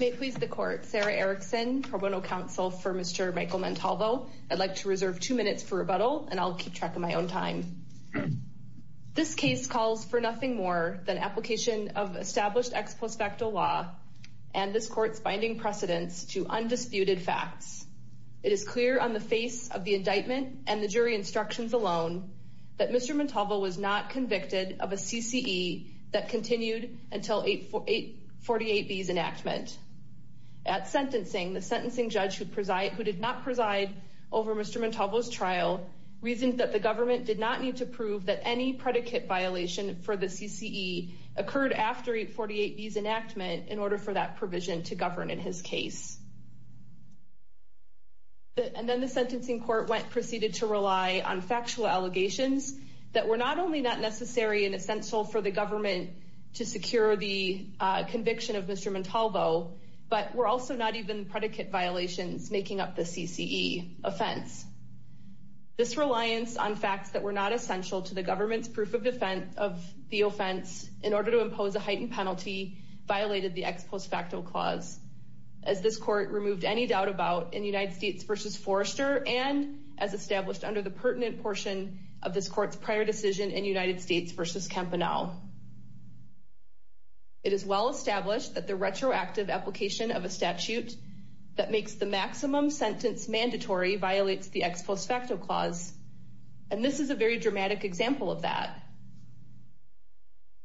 May please the court. Sarah Erickson, Pro Bono Counsel for Mr. Michael Montalvo. I'd like to reserve two minutes for rebuttal and I'll keep track of my own time. This case calls for nothing more than application of established ex post facto law and this court's binding precedence to undisputed facts. It is clear on the face of the indictment and the jury instructions alone that Mr. Montalvo was not convicted of a CCE that continued until 848B's enactment. At sentencing, the sentencing judge who did not preside over Mr. Montalvo's trial reasoned that the government did not need to prove that any predicate violation for the CCE occurred after 848B's enactment in order for that provision to govern in his case. And then the sentencing court went proceeded to rely on factual allegations that were not only not necessary and essential for the government to secure the conviction of Mr. Montalvo, but were also not even predicate violations making up the CCE offense. This reliance on facts that were not essential to the government's proof of defense of the offense in order to impose a heightened penalty violated the ex post facto clause as this court removed any doubt about in United States versus Forrester and as established under the pertinent portion of this court's prior decision in United States versus Campanile. It is well established that the retroactive application of a statute that makes the maximum sentence mandatory violates the ex post facto clause. And this is a very dramatic example of that.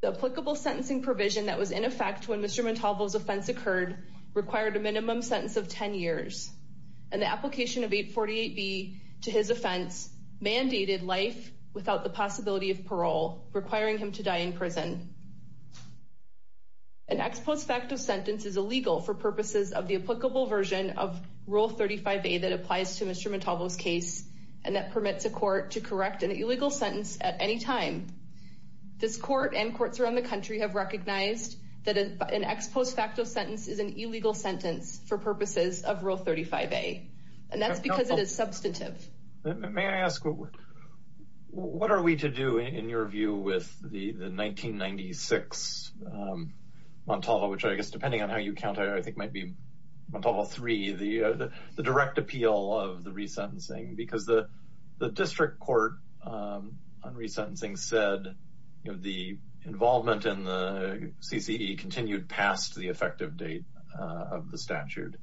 The applicable sentencing provision that was in effect when Mr. Montalvo's offense occurred required a minimum sentence of 10 years and the application of 848B to his offense mandated life without the possibility of parole requiring him to die in prison. An ex post facto sentence is illegal for purposes of the applicable version of Rule 35A that applies to Mr. Montalvo's case and that permits a court to correct an illegal sentence at any time. This court and courts around the country have recognized that an ex post facto sentence is an illegal sentence for purposes of Rule 35A and that's because it is substantive. May I ask what are we to do in your view with the 1996 Montalvo which I guess depending on how you count I think might be Montalvo 3, the direct appeal of the resentencing because the district court on resentencing said the involvement in the CCE continued past the effective date of the statute.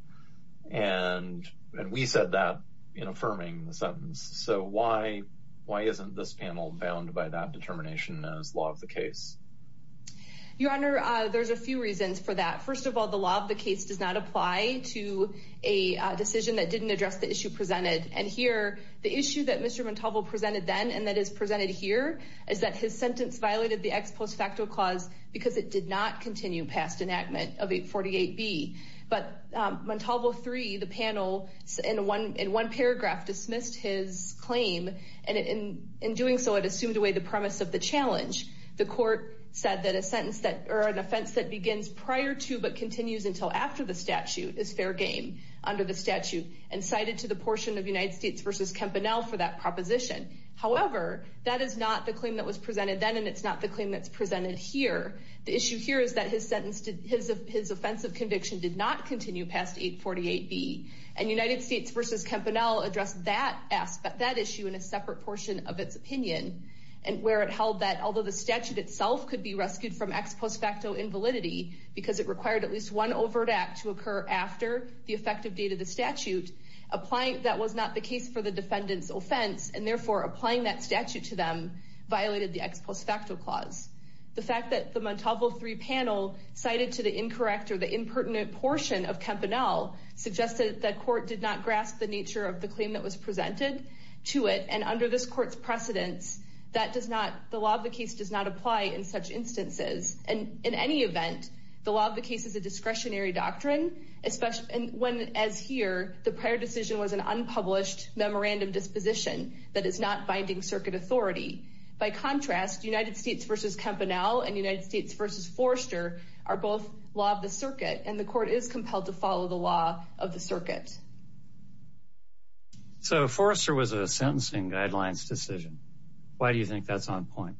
And we said that in affirming the sentence. So why isn't this panel bound by that determination as law of the case? Your Honor, there's a few reasons for that. First of all, the law of the case does not apply to a decision that didn't address the issue presented and here the issue that Mr. Montalvo presented then and that is presented here is that his sentence violated the ex post facto clause because it did not continue past enactment of 848B. But Montalvo 3, the panel in one paragraph dismissed his claim and in doing so it assumed away the premise of the challenge. The court said that a sentence that or an offense that begins prior to but continues until after the statute is fair game under the statute and cited to the portion of United States versus Campanella for that proposition. However, that is not the claim that was presented then and it's not the claim that's presented here. The issue here is that his sentence to his offensive conviction did not continue past 848B and United States versus Campanella address that aspect that issue in a separate portion of its opinion. And where it held that although the statute itself could be rescued from ex post facto invalidity because it required at least one overt act to occur after the effective date of the statute applying that was not the case for the defendants offense and therefore applying that statute to them violated the ex post facto clause. The fact that the Montalvo 3 panel cited to the incorrect or the impertinent portion of Campanella suggested that court did not grasp the nature of the claim that was presented to it and under this court's precedence that does not the law of the case does not apply in such instances. And in any event, the law of the case is a discretionary doctrine, especially when as here the prior decision was an unpublished memorandum disposition that is not binding circuit authority. By contrast, United States versus Campanella and United States versus Forrester are both law of the circuit and the court is compelled to follow the law of the circuit. So Forrester was a sentencing guidelines decision. Why do you think that's on point?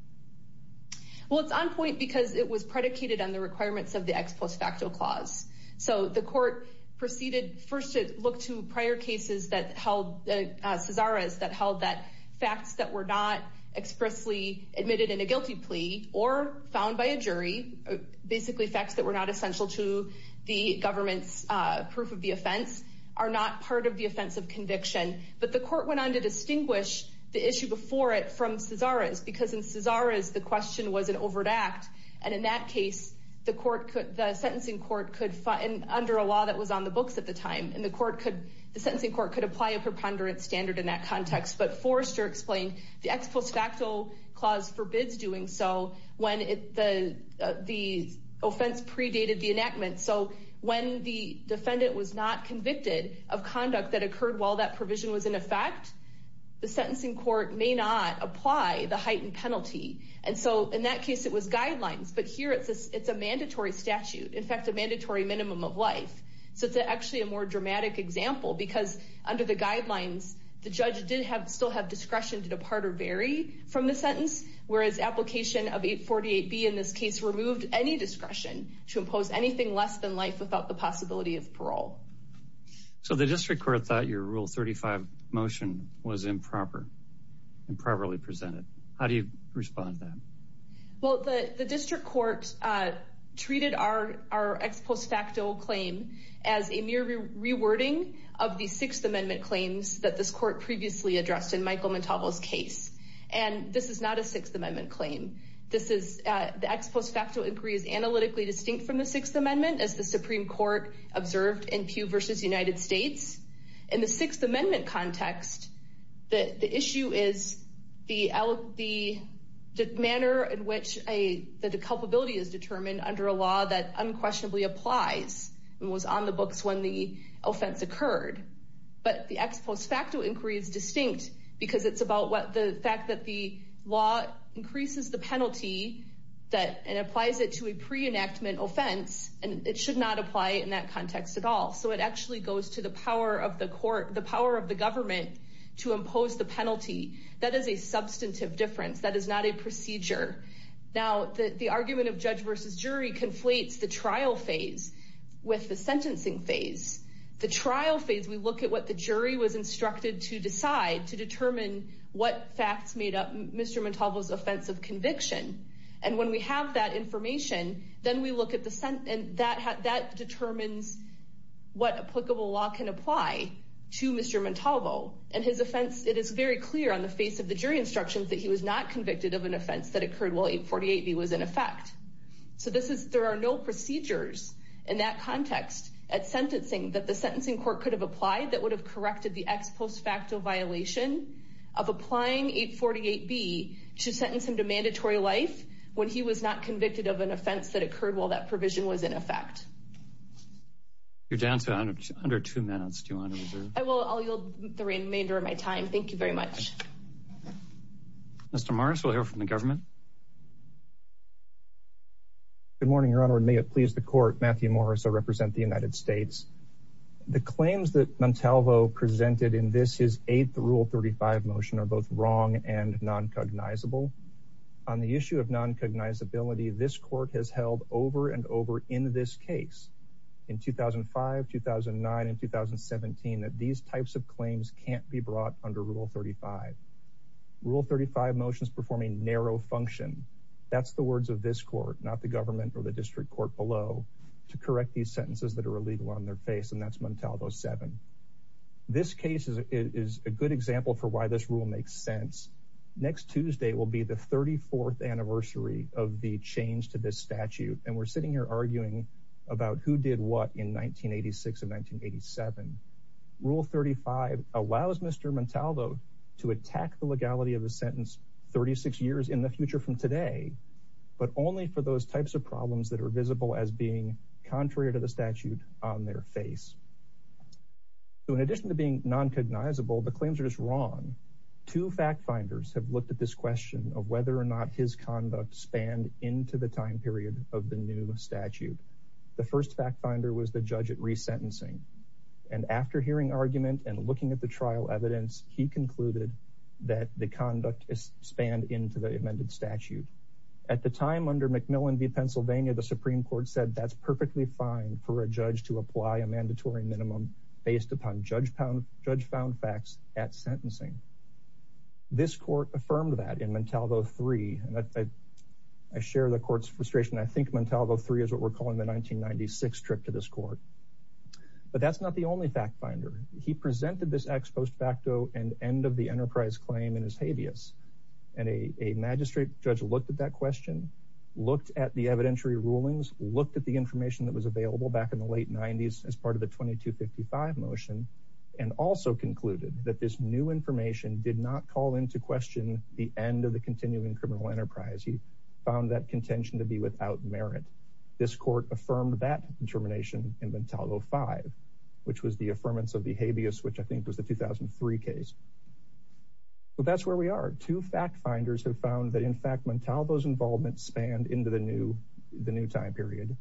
Well, it's on point because it was predicated on the requirements of the ex post facto clause. So the court proceeded first to look to prior cases that held the Cesar is that held that facts that were not expressly admitted in a guilty plea or found by a jury basically facts that were not essential to the government's proof of the offense are not part of the offensive conviction. But the court went on to distinguish the issue before it from Cesar is because in Cesar is the question was an overt act. And in that case, the court could the sentencing court could find under a law that was on the books at the time. And the court could the sentencing court could apply a preponderance standard in that context. But Forrester explained the ex post facto clause forbids doing so when the offense predated the enactment. So when the defendant was not convicted of conduct that occurred while that provision was in effect, the sentencing court may not apply the heightened penalty. And so in that case, it was guidelines. But here it's a mandatory statute, in fact, a mandatory minimum of life. So it's actually a more dramatic example because under the guidelines, the judge did have still have discretion to depart or vary from the sentence, whereas application of 848 be in this case removed any discretion to impose anything less than life without the possibility of parole. So the district court thought your rule 35 motion was improper, improperly presented. How do you respond to that? Well, the district court treated our our ex post facto claim as a mere rewording of the Sixth Amendment claims that this court previously addressed in Michael Montalvo's case. And this is not a Sixth Amendment claim. This is the ex post facto increase analytically distinct from the Sixth Amendment as the Supreme Court observed in Pew versus United States. In the Sixth Amendment context, the issue is the the manner in which a the culpability is determined under a law that unquestionably applies and was on the books when the offense occurred. But the ex post facto increase distinct because it's about what the fact that the law increases the penalty that applies it to a pre enactment offense and it should not apply in that context at all. So it actually goes to the power of the court, the power of the government to impose the penalty. That is a substantive difference. That is not a procedure. Now, the argument of judge versus jury conflates the trial phase with the sentencing phase. The trial phase, we look at what the jury was instructed to decide to determine what facts made up Mr. Montalvo's offense of conviction. And when we have that information, then we look at the sentence that determines what applicable law can apply to Mr. Montalvo and his offense. It is very clear on the face of the jury instructions that he was not convicted of an offense that occurred while 848B was in effect. So this is there are no procedures in that context at sentencing that the sentencing court could have applied that would have corrected the ex post facto violation of applying 848B to sentence him to mandatory life when he was not convicted of an offense that occurred while that provision was in effect. You're down to under two minutes. I will yield the remainder of my time. Thank you very much. Mr. Morris, we'll hear from the government. Good morning, Your Honor. May it please the court. Matthew Morris, I represent the United States. The claims that Montalvo presented in this is 8th Rule 35 motion are both wrong and non cognizable on the issue of non cognizability. This court has held over and over in this case in 2005, 2009 and 2017 that these types of claims can't be brought under Rule 35. Rule 35 motions performing narrow function. That's the words of this court, not the government or the district court below to correct these sentences that are illegal on their face. And that's Montalvo 7. This case is a good example for why this rule makes sense. Next Tuesday will be the 34th anniversary of the change to this statute. And we're sitting here arguing about who did what in 1986 and 1987. Rule 35 allows Mr. Montalvo to attack the legality of a sentence 36 years in the future from today. But only for those types of problems that are visible as being contrary to the statute on their face. In addition to being non cognizable, the claims are just wrong. Two fact finders have looked at this question of whether or not his conduct spanned into the time period of the new statute. The first fact finder was the judge at resentencing. And after hearing argument and looking at the trial evidence, he concluded that the conduct is spanned into the amended statute. At the time under McMillan v. Pennsylvania, the Supreme Court said that's perfectly fine for a judge to apply a mandatory minimum based upon judge found facts at sentencing. This court affirmed that in Montalvo 3. I share the court's frustration. I think Montalvo 3 is what we're calling the 1996 trip to this court. But that's not the only fact finder. He presented this ex post facto and end of the enterprise claim in his habeas. And a magistrate judge looked at that question, looked at the evidentiary rulings, looked at the information that was available back in the late 90s as part of the 2255 motion. And also concluded that this new information did not call into question the end of the continuing criminal enterprise. He found that contention to be without merit. This court affirmed that determination in Montalvo 5, which was the affirmance of the habeas, which I think was the 2003 case. But that's where we are. Two fact finders have found that, in fact, Montalvo's involvement spanned into the new the new time period.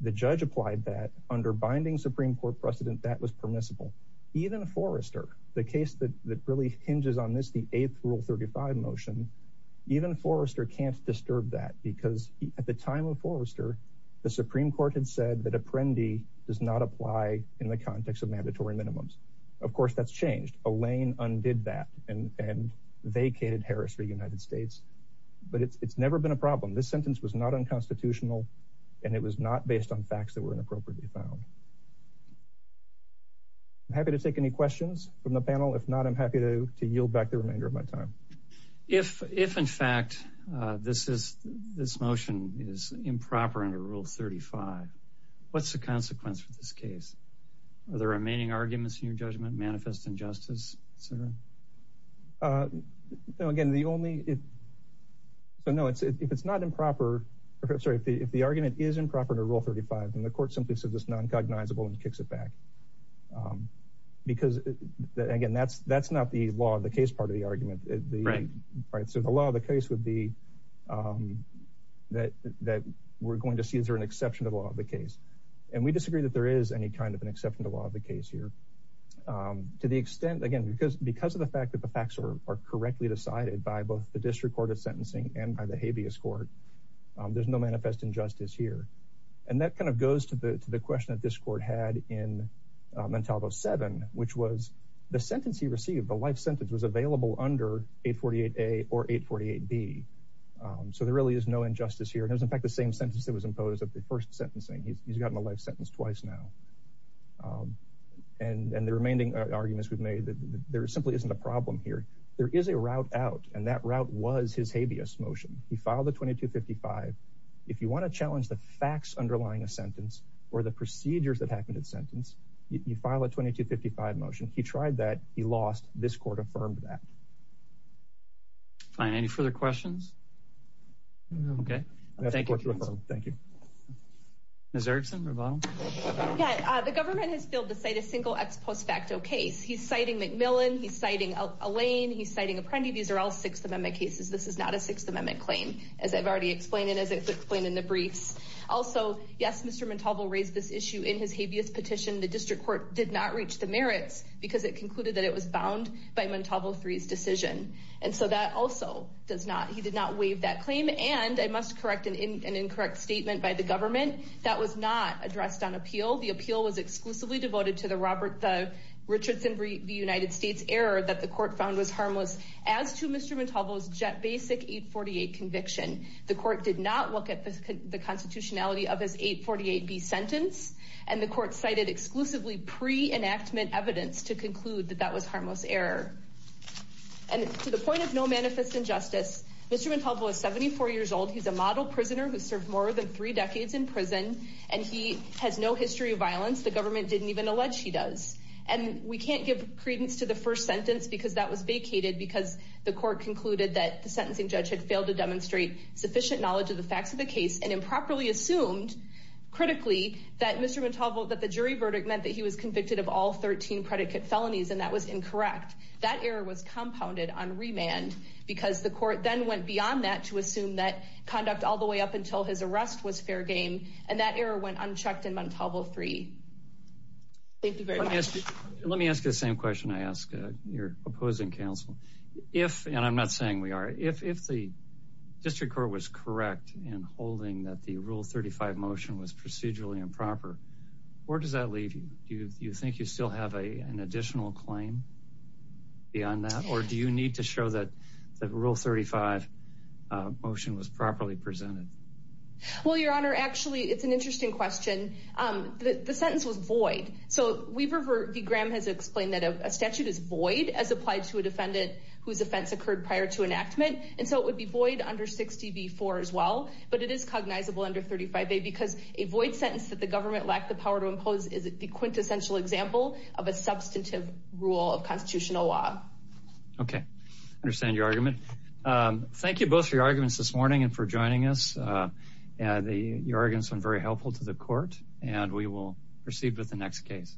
The judge applied that under binding Supreme Court precedent that was permissible. Even Forrester, the case that really hinges on this, the 8th rule 35 motion, even Forrester can't disturb that. Because at the time of Forrester, the Supreme Court had said that Apprendi does not apply in the context of mandatory minimums. Of course, that's changed. Elaine undid that and vacated Harris v. United States. But it's never been a problem. This sentence was not unconstitutional, and it was not based on facts that were inappropriately found. I'm happy to take any questions from the panel. If not, I'm happy to yield back the remainder of my time. If if, in fact, this is this motion is improper under Rule 35, what's the consequence for this case? Are the remaining arguments in your judgment manifest injustice? So, again, the only if. So, no, it's if it's not improper. Sorry, if the argument is improper to rule 35, then the court simply says it's noncognizable and kicks it back. Because, again, that's that's not the law of the case. Part of the argument is the right. So the law of the case would be that that we're going to see is there an exception to the law of the case? And we disagree that there is any kind of an exception to the law of the case here. To the extent, again, because because of the fact that the facts are correctly decided by both the district court of sentencing and by the habeas court, there's no manifest injustice here. And that kind of goes to the to the question that this court had in Montalvo 7, which was the sentence he received. The life sentence was available under 848 A or 848 B. So there really is no injustice here. It was, in fact, the same sentence that was imposed at the first sentencing. He's gotten a life sentence twice now. And the remaining arguments we've made that there simply isn't a problem here. There is a route out, and that route was his habeas motion. He filed a 2255. If you want to challenge the facts underlying a sentence or the procedures that happened in sentence, you file a 2255 motion. He tried that. He lost. This court affirmed that. Fine. Any further questions? OK. Thank you. Thank you. Ms. Erickson. Yeah. The government has failed to cite a single ex post facto case. He's citing McMillan. He's citing a lane. He's citing a friend. These are all Sixth Amendment cases. This is not a Sixth Amendment claim. As I've already explained it, as I explained in the briefs. Also, yes, Mr. Montalvo raised this issue in his habeas petition. The district court did not reach the merits because it concluded that it was bound by Montalvo 3's decision. And so that also does not. He did not waive that claim. And I must correct an incorrect statement by the government. That was not addressed on appeal. The appeal was exclusively devoted to the Robert Richardson. The United States error that the court found was harmless as to Mr. Montalvo's basic 848 conviction. The court did not look at the constitutionality of his 848 B sentence. And the court cited exclusively pre enactment evidence to conclude that that was harmless error. And to the point of no manifest injustice, Mr. Montalvo is 74 years old. He's a model prisoner who served more than three decades in prison. And he has no history of violence. The government didn't even allege he does. And we can't give credence to the first sentence because that was vacated because the court concluded that the sentencing judge had failed to demonstrate sufficient knowledge of the facts of the case. And improperly assumed critically that Mr. Montalvo that the jury verdict meant that he was convicted of all 13 predicate felonies. And that was incorrect. That error was compounded on remand because the court then went beyond that to assume that conduct all the way up until his arrest was fair game. And that error went unchecked in Montalvo three. Thank you very much. Let me ask you the same question. I ask your opposing counsel if and I'm not saying we are. If if the district court was correct in holding that the rule 35 motion was procedurally improper. Where does that leave you? You think you still have a an additional claim beyond that? Or do you need to show that the rule 35 motion was properly presented? Well, your honor, actually, it's an interesting question. The sentence was void. So we've ever be Graham has explained that a statute is void as applied to a defendant whose offense occurred prior to enactment. And so it would be void under 60 before as well. But it is cognizable under 35 because a void sentence that the government lacked the power to impose. Is it the quintessential example of a substantive rule of constitutional law? OK. Understand your argument. Thank you both for your arguments this morning and for joining us. The arguments are very helpful to the court. And we will proceed with the next case.